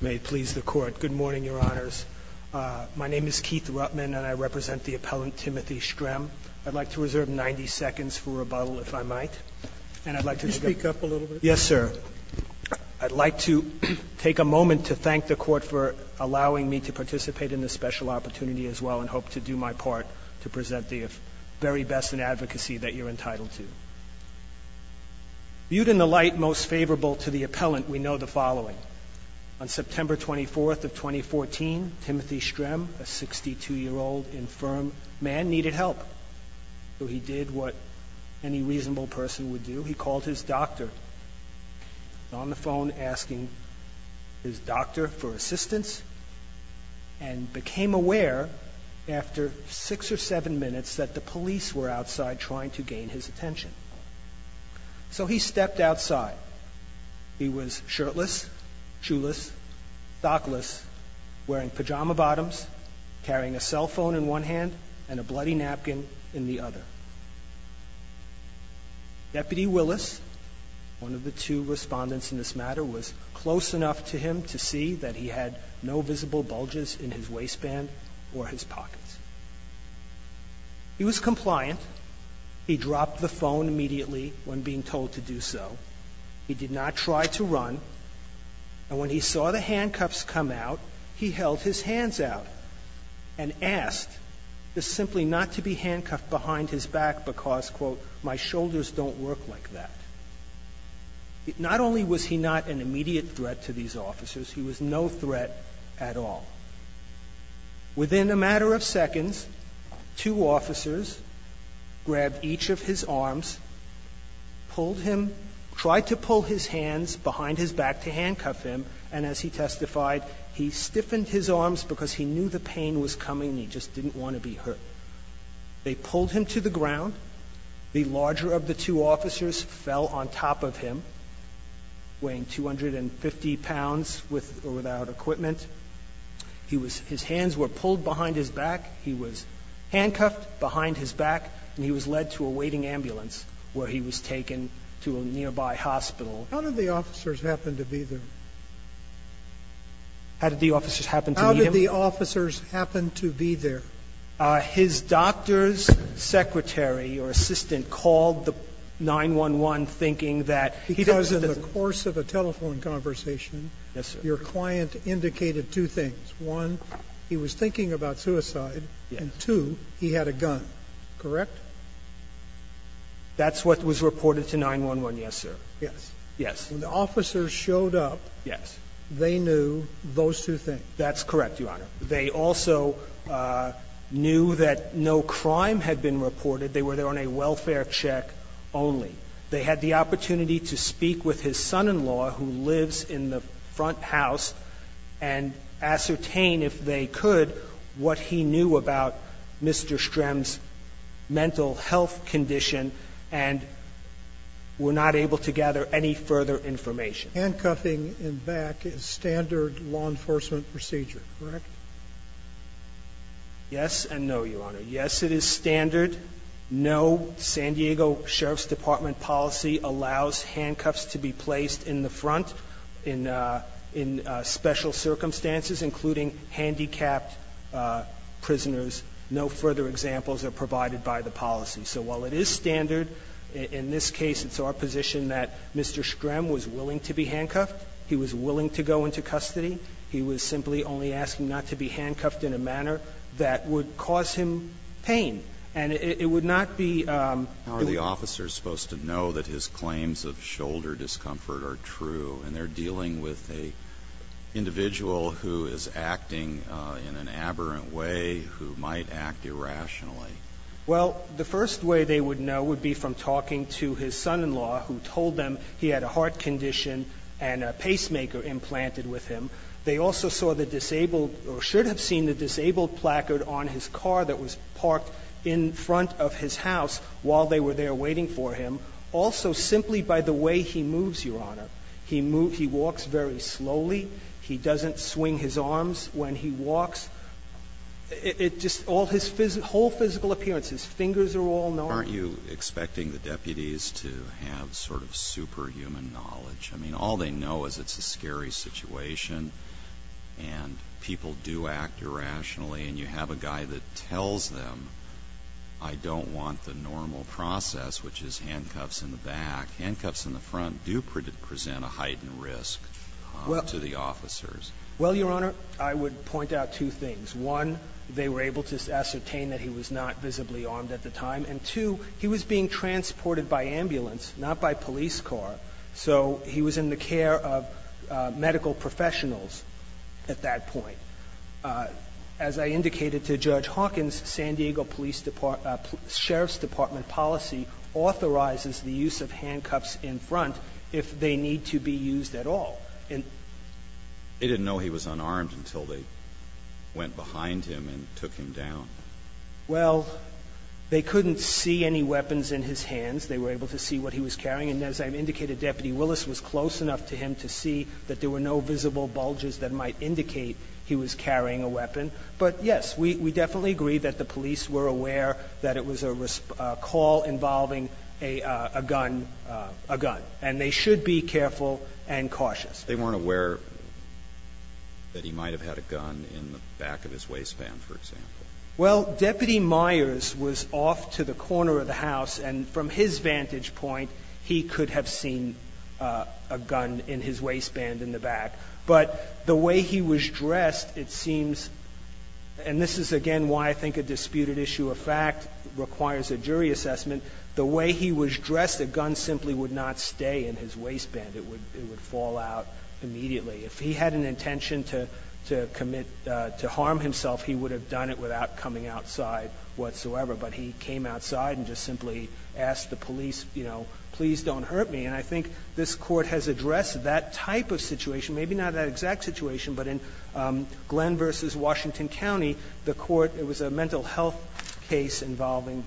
May it please the Court. Good morning, Your Honors. My name is Keith Rutman, and I represent the appellant, Timothy Strem. I'd like to reserve 90 seconds for rebuttal, if I might. And I'd like to speak up a little bit. Yes, sir. I'd like to take a moment to thank the Court for allowing me to participate in this special opportunity as well and hope to do my part to present the very best in advocacy that you're entitled to. Viewed in the light most favorable to the appellant, we know the following. On September 24th of 2014, Timothy Strem, a 62-year-old infirm man, needed help. So he did what any reasonable person would do. He called his doctor on the phone asking his doctor for assistance and became aware after six or seven minutes that the police were outside trying to gain his attention. So he stepped outside. He was shirtless, shoeless, stockless, wearing pajama bottoms, carrying a cell phone in one hand and a bloody napkin in the other. Deputy Willis, one of the two respondents in this matter, was close enough to him to see that he had no visible bulges in his waistband or his pockets. He was compliant. He dropped the phone immediately when being told to do so. He did not try to run. And when he saw the handcuffs come out, he held his hands out and asked to simply not to be handcuffed behind his back because, quote, my shoulders don't work like that. Not only was he not an immediate threat to these officers, he was no threat at all. Within a matter of seconds, two officers grabbed each of his arms, pulled him, tried to pull his hands behind his back to handcuff him, and as he testified, he stiffened his arms because he knew the pain was coming and he just didn't want to be hurt. They pulled him to the ground. The larger of the two officers fell on top of him, weighing 250 pounds, with or without equipment. He was – his hands were pulled behind his back. He was handcuffed behind his back, and he was led to a waiting ambulance where he was taken to a nearby hospital. How did the officers happen to be there? How did the officers happen to meet him? How did the officers happen to be there? His doctor's secretary or assistant called the 911, thinking that he doesn't need When you were having a telephone conversation, your client indicated two things. One, he was thinking about suicide. And two, he had a gun. Correct? That's what was reported to 911, yes, sir. Yes. Yes. When the officers showed up, they knew those two things? That's correct, Your Honor. They also knew that no crime had been reported. They were there on a welfare check only. They had the opportunity to speak with his son-in-law, who lives in the front house, and ascertain, if they could, what he knew about Mr. Strem's mental health condition, and were not able to gather any further information. Handcuffing in back is standard law enforcement procedure, correct? Yes and no, Your Honor. Yes, it is standard. No San Diego Sheriff's Department policy allows handcuffs to be placed in the front in special circumstances, including handicapped prisoners. No further examples are provided by the policy. So while it is standard, in this case, it's our position that Mr. Strem was willing to be handcuffed. He was willing to go into custody. He was simply only asking not to be handcuffed in a manner that would cause him pain. And it would not be the officer's supposed to know that his claims of shoulder discomfort are true, and they're dealing with an individual who is acting in an aberrant way, who might act irrationally. Well, the first way they would know would be from talking to his son-in-law, who told them he had a heart condition and a pacemaker implanted with him. They also saw the disabled or should have seen the disabled placard on his car that was parked in front of his house while they were there waiting for him, also simply by the way he moves, Your Honor. He moves, he walks very slowly. He doesn't swing his arms when he walks. It just all his whole physical appearance, his fingers are all narrow. Aren't you expecting the deputies to have sort of superhuman knowledge? I mean, all they know is it's a scary situation, and people do act irrationally, and you have a guy that tells them, I don't want the normal process, which is handcuffs in the back. Handcuffs in the front do present a heightened risk to the officers. Well, Your Honor, I would point out two things. One, they were able to ascertain that he was not visibly armed at the time, and, two, he was being transported by ambulance, not by police car, so he was in the care of medical professionals at that point. As I indicated to Judge Hawkins, San Diego Police Department, Sheriff's Department policy authorizes the use of handcuffs in front if they need to be used at all. They didn't know he was unarmed until they went behind him and took him down. Well, they couldn't see any weapons in his hands. They were able to see what he was carrying, and as I indicated, Deputy Willis was close enough to him to see that there were no visible bulges that might indicate he was carrying a weapon, but, yes, we definitely agree that the police were aware that it was a call involving a gun, a gun, and they should be careful and cautious. They weren't aware that he might have had a gun in the back of his waistband, for example. Well, Deputy Myers was off to the corner of the house, and from his vantage point, he could have seen a gun in his waistband in the back. But the way he was dressed, it seems, and this is, again, why I think a disputed issue of fact requires a jury assessment, the way he was dressed, a gun simply would not stay in his waistband. It would fall out immediately. If he had an intention to commit to harm himself, he would have done it without coming outside whatsoever. But he came outside and just simply asked the police, you know, please don't hurt me. And I think this Court has addressed that type of situation, maybe not that exact situation, but in Glenn v. Washington County, the Court, it was a mental health case involving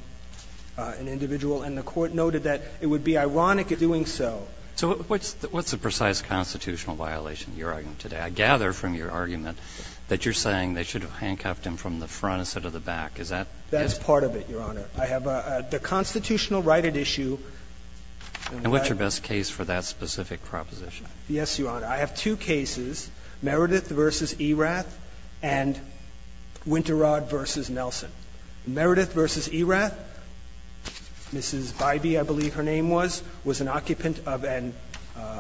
an individual, and the Court noted that it would be ironic in doing so. So what's the precise constitutional violation in your argument today? I gather from your argument that you're saying they should have handcuffed him from the front instead of the back. Is that? That's part of it, Your Honor. I have a constitutional right at issue. And what's your best case for that specific proposition? Yes, Your Honor. I have two cases, Meredith v. Erath and Winterod v. Nelson. Meredith v. Erath, Mrs. Bybee, I believe her name was, was an occupant of an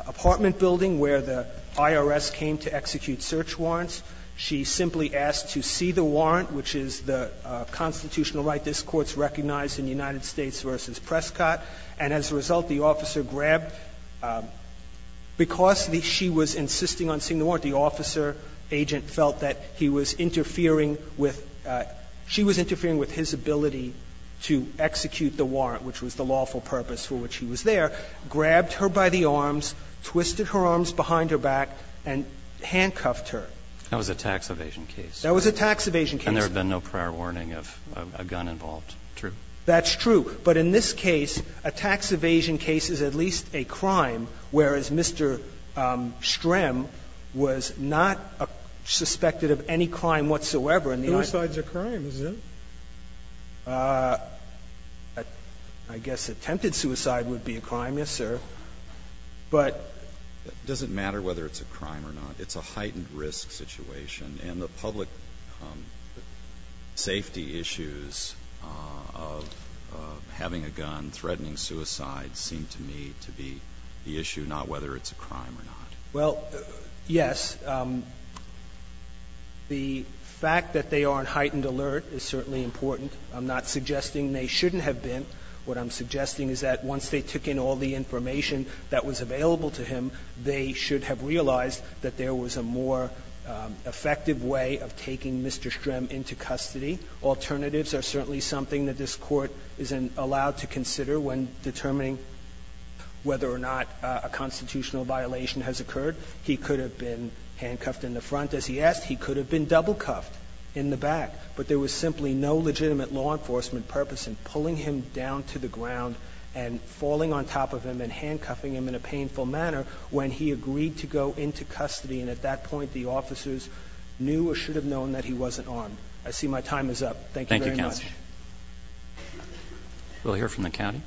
apartment building where the IRS came to execute search warrants. She simply asked to see the warrant, which is the constitutional right this Court's recognized in United States v. Prescott. And as a result, the officer grabbed the warrant. Because she was insisting on seeing the warrant, the officer, agent, felt that he was interfering with, she was interfering with his ability to execute the warrant, which was the lawful purpose for which he was there, grabbed her by the arms, twisted her arms behind her back, and handcuffed her. That was a tax evasion case. That was a tax evasion case. And there had been no prior warning of a gun involved. True. That's true. But in this case, a tax evasion case is at least a crime, whereas Mr. Strem was not suspected of any crime whatsoever in the United States. Suicide's a crime, isn't it? I guess attempted suicide would be a crime, yes, sir. But doesn't matter whether it's a crime or not. It's a heightened risk situation. And the public safety issues of having a gun threatening suicide seem to me to be the issue, not whether it's a crime or not. Well, yes. The fact that they are on heightened alert is certainly important. I'm not suggesting they shouldn't have been. What I'm suggesting is that once they took in all the information that was available to him, they should have realized that there was a more effective way of taking Mr. Strem into custody. Alternatives are certainly something that this Court is allowed to consider when a crime has occurred. He could have been handcuffed in the front, as he asked. He could have been double cuffed in the back. But there was simply no legitimate law enforcement purpose in pulling him down to the ground and falling on top of him and handcuffing him in a painful manner when he agreed to go into custody. And at that point, the officers knew or should have known that he wasn't armed. I see my time is up. Thank you very much. Thank you, counsel. We'll hear from the county.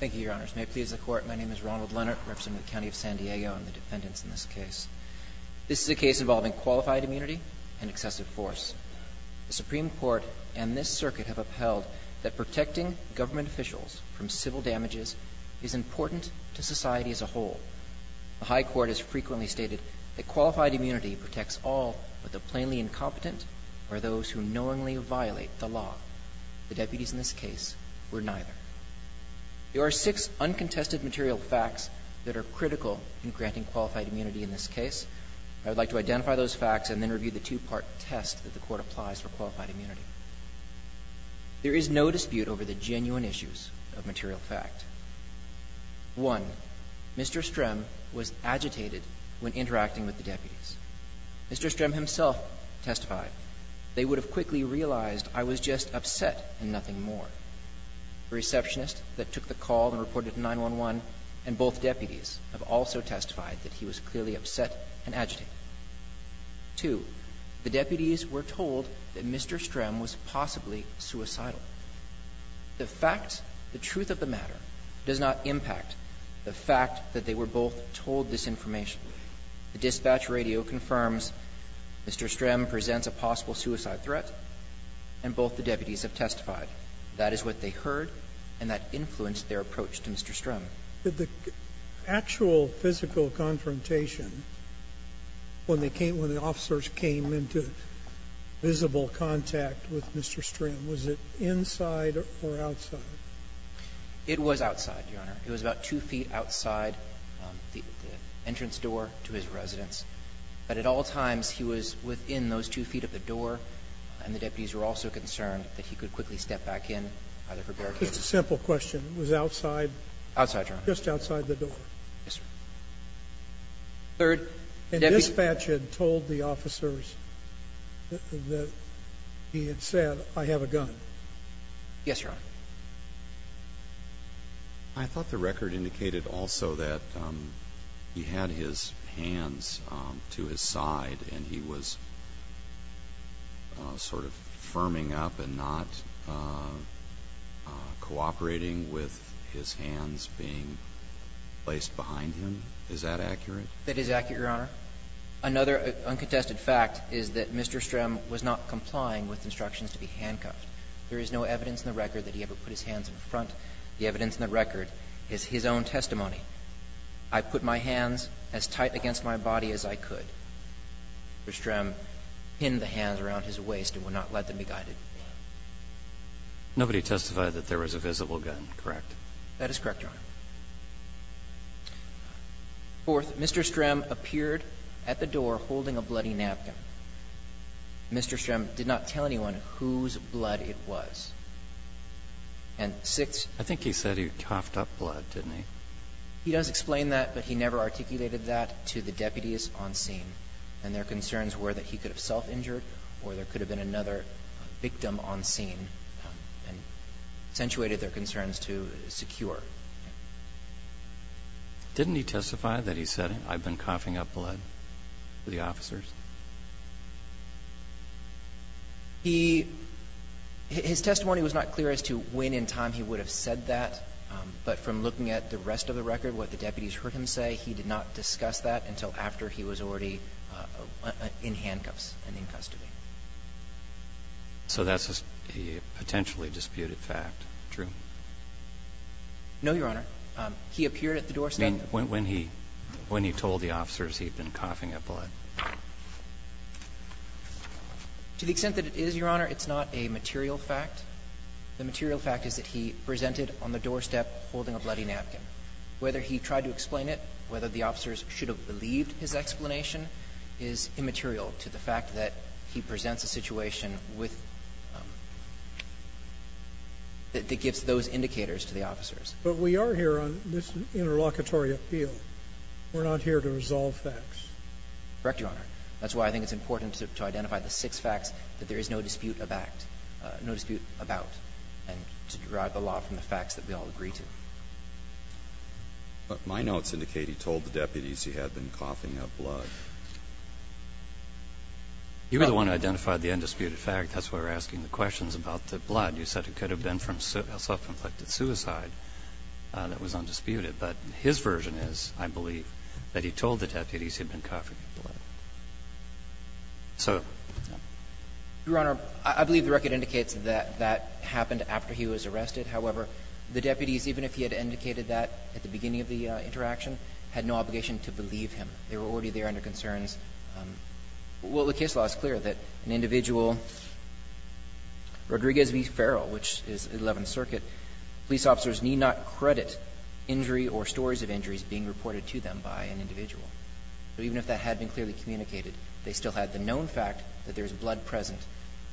Thank you, Your Honors. May it please the Court, my name is Ronald Leonard, representing the County of San Diego and the defendants in this case. This is a case involving qualified immunity and excessive force. The Supreme Court and this Circuit have upheld that protecting government officials from civil damages is important to society as a whole. The high court has frequently stated that qualified immunity protects all, but the plainly incompetent are those who knowingly violate the law. The deputies in this case were neither. There are six uncontested material facts that are critical in granting qualified immunity in this case. I would like to identify those facts and then review the two-part test that the Court applies for qualified immunity. There is no dispute over the genuine issues of material fact. One, Mr. Strem was agitated when interacting with the deputies. Mr. Strem himself testified, they would have quickly realized I was just upset and nothing more. The receptionist that took the call and reported to 911 and both deputies have also testified that he was clearly upset and agitated. Two, the deputies were told that Mr. Strem was possibly suicidal. The fact, the truth of the matter does not impact the fact that they were both told this information. The dispatch radio confirms Mr. Strem presents a possible suicide threat and both the deputies have testified. That is what they heard and that influenced their approach to Mr. Strem. Sotomayor, did the actual physical confrontation when they came, when the officers came into visible contact with Mr. Strem, was it inside or outside? It was outside, Your Honor. It was about two feet outside the entrance door to his residence. But at all times, he was within those two feet of the door and the deputies were also concerned that he could quickly step back in either for barricades. It's a simple question. It was outside? Outside, Your Honor. Just outside the door. Yes, sir. Third, the dispatch had told the officers that he had said, I have a gun. Yes, Your Honor. I thought the record indicated also that he had his hands to his side and he was sort of firming up and not cooperating with his hands being placed behind him. Is that accurate? That is accurate, Your Honor. Another uncontested fact is that Mr. Strem was not complying with instructions to be handcuffed. There is no evidence in the record that he ever put his hands in front. The evidence in the record is his own testimony. I put my hands as tight against my body as I could. Mr. Strem pinned the hands around his waist and would not let them be guided. That is correct, Your Honor. Fourth, Mr. Strem appeared at the door holding a bloody napkin. Mr. Strem did not tell anyone whose blood it was. And sixth. I think he said he coughed up blood, didn't he? He does explain that, but he never articulated that to the deputies on scene. And their concerns were that he could have self-injured or there could have been another victim on scene and accentuated their concerns to secure. Didn't he testify that he said, I've been coughing up blood, to the officers? He – his testimony was not clear as to when in time he would have said that, but from looking at the rest of the record, what the deputies heard him say, he did not discuss that until after he was already in handcuffs and in custody. So that's a potentially disputed fact, true? No, Your Honor. He appeared at the doorstep. When he told the officers he'd been coughing up blood. To the extent that it is, Your Honor, it's not a material fact. The material fact is that he presented on the doorstep holding a bloody napkin. Whether he tried to explain it, whether the officers should have believed his explanation is immaterial to the fact that he presents a situation with – that gives those indicators to the officers. But we are here on this interlocutory appeal. We're not here to resolve facts. Correct, Your Honor. That's why I think it's important to identify the six facts that there is no dispute of act – no dispute about, and to derive the law from the facts that we all agree to. But my notes indicate he told the deputies he had been coughing up blood. You were the one who identified the undisputed fact. That's why we're asking the questions about the blood. You said it could have been from self-inflicted suicide that was undisputed. But his version is, I believe, that he told the deputies he had been coughing up blood. So, yeah. Your Honor, I believe the record indicates that that happened after he was arrested. However, the deputies, even if he had indicated that at the beginning of the interaction, had no obligation to believe him. They were already there under concerns. Well, the case law is clear that an individual, Rodriguez v. Farrell, which is 11th Circuit, police officers need not credit injury or stories of injuries being reported to them by an individual. But even if that had been clearly communicated, they still had the known fact that there was blood present,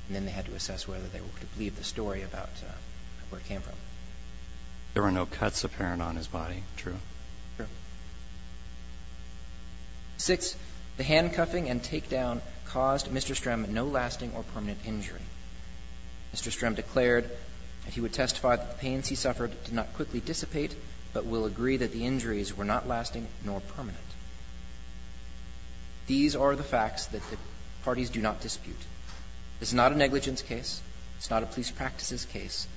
and then they had to assess whether they were able to believe the story about where it came from. There were no cuts apparent on his body, true? True. Six, the handcuffing and takedown caused Mr. Strem no lasting or permanent injury. Mr. Strem declared that he would testify that the pains he suffered did not quickly dissipate, but will agree that the injuries were not lasting nor permanent. These are the facts that the parties do not dispute. This is not a negligence case. It's not a police practices case.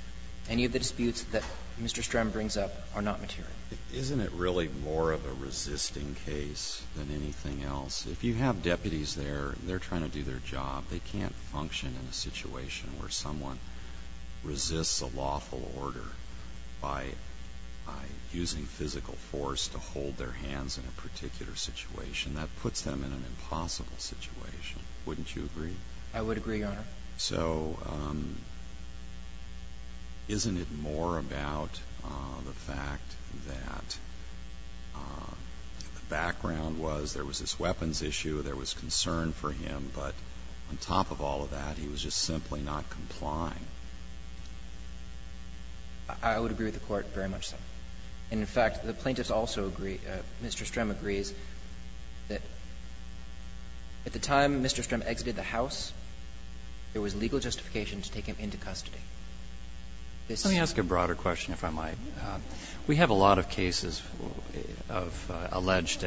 Any of the disputes that Mr. Strem brings up are not material. Isn't it really more of a resisting case than anything else? If you have deputies there, they're trying to do their job. They can't function in a situation where someone resists a lawful order by using physical force to hold their hands in a particular situation. That puts them in an impossible situation. I would agree, Your Honor. So isn't it more about the fact that the background was there was this weapons issue, there was concern for him, but on top of all of that, he was just simply not complying? I would agree with the Court very much so. And, in fact, the plaintiffs also agree, Mr. Strem agrees, that at the time Mr. Strem exited the house, there was legal justification to take him into custody. Let me ask a broader question, if I might. We have a lot of cases of alleged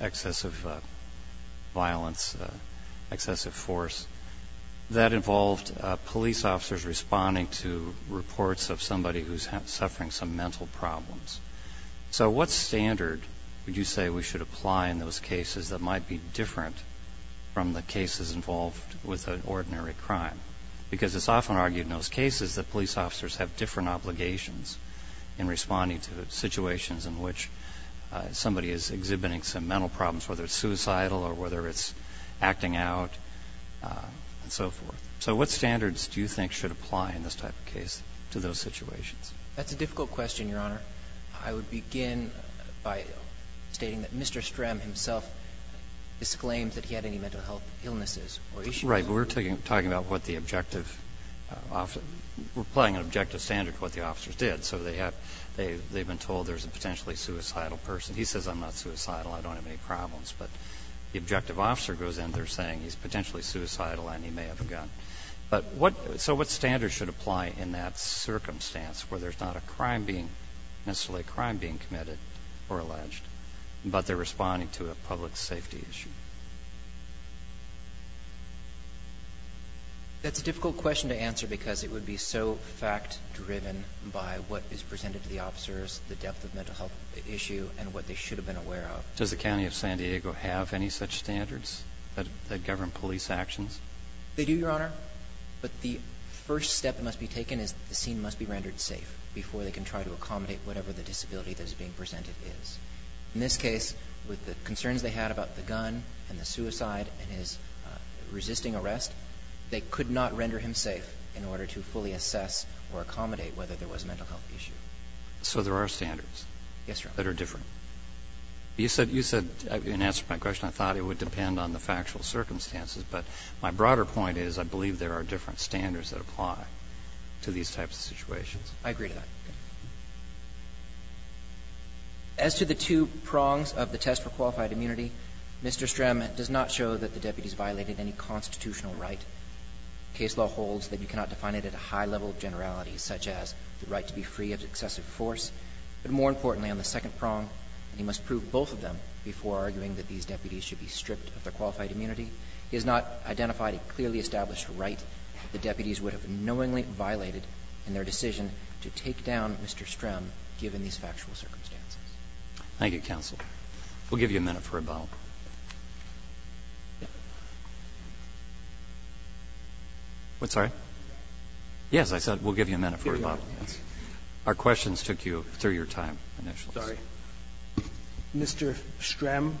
excessive violence, excessive force, that involved police officers responding to reports of somebody who's suffering some mental problems. So what standard would you say we should apply in those cases that might be involved with an ordinary crime? Because it's often argued in those cases that police officers have different obligations in responding to situations in which somebody is exhibiting some mental problems, whether it's suicidal or whether it's acting out and so forth. So what standards do you think should apply in this type of case to those situations? That's a difficult question, Your Honor. I would begin by stating that Mr. Strem himself disclaimed that he had any mental health illnesses or issues. Right. We're talking about what the objective office – we're applying an objective standard to what the officers did. So they have – they've been told there's a potentially suicidal person. He says, I'm not suicidal, I don't have any problems. But the objective officer goes in, they're saying he's potentially suicidal and he may have a gun. But what – so what standards should apply in that circumstance where there's not a crime being – necessarily a crime being committed or alleged, but they're responding to a public safety issue? That's a difficult question to answer because it would be so fact-driven by what is presented to the officers, the depth of mental health issue, and what they should have been aware of. Does the county of San Diego have any such standards that govern police actions? They do, Your Honor. But the first step that must be taken is the scene must be rendered safe before they can try to accommodate whatever the disability that is being presented is. In this case, with the concerns they had about the gun and the suicide and his resisting arrest, they could not render him safe in order to fully assess or accommodate whether there was a mental health issue. So there are standards? Yes, Your Honor. That are different. You said – you said in answer to my question, I thought it would depend on the factual circumstances. But my broader point is I believe there are different standards that apply to these types of situations. I agree to that. As to the two prongs of the test for qualified immunity, Mr. Strem does not show that the deputies violated any constitutional right. Case law holds that you cannot define it at a high level of generality, such as the right to be free of excessive force. But more importantly, on the second prong, he must prove both of them before arguing that these deputies should be stripped of their qualified immunity. He has not identified a clearly established right the deputies would have knowingly violated in their decision to take down Mr. Strem, given these factual circumstances. Thank you, counsel. We'll give you a minute for rebuttal. What? Sorry? Yes, I said we'll give you a minute for rebuttal. Our questions took you through your time, initials. Mr. Strem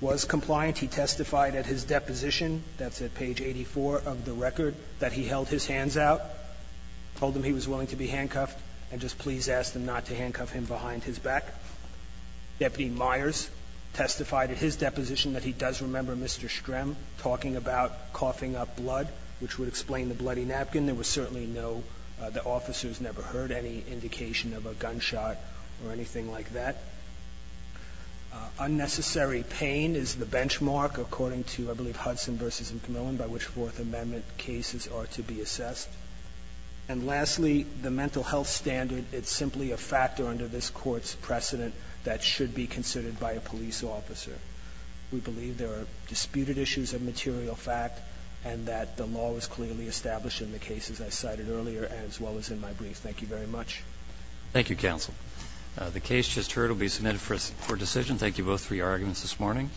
was compliant. He testified at his deposition, that's at page 84 of the record, that he held his hands out. Told them he was willing to be handcuffed, and just please ask them not to handcuff him behind his back. Deputy Myers testified at his deposition that he does remember Mr. Strem talking about coughing up blood, which would explain the bloody napkin. There was certainly no, the officers never heard any indication of a gunshot or anything like that. Unnecessary pain is the benchmark according to, I believe, Hudson v. McMillan, by which Fourth Amendment cases are to be assessed. And lastly, the mental health standard, it's simply a factor under this Court's precedent that should be considered by a police officer. We believe there are disputed issues of material fact, and that the law was clearly established in the cases I cited earlier, as well as in my brief. Thank you very much. Thank you, counsel. The case just heard will be submitted for decision. Thank you both for your arguments this morning.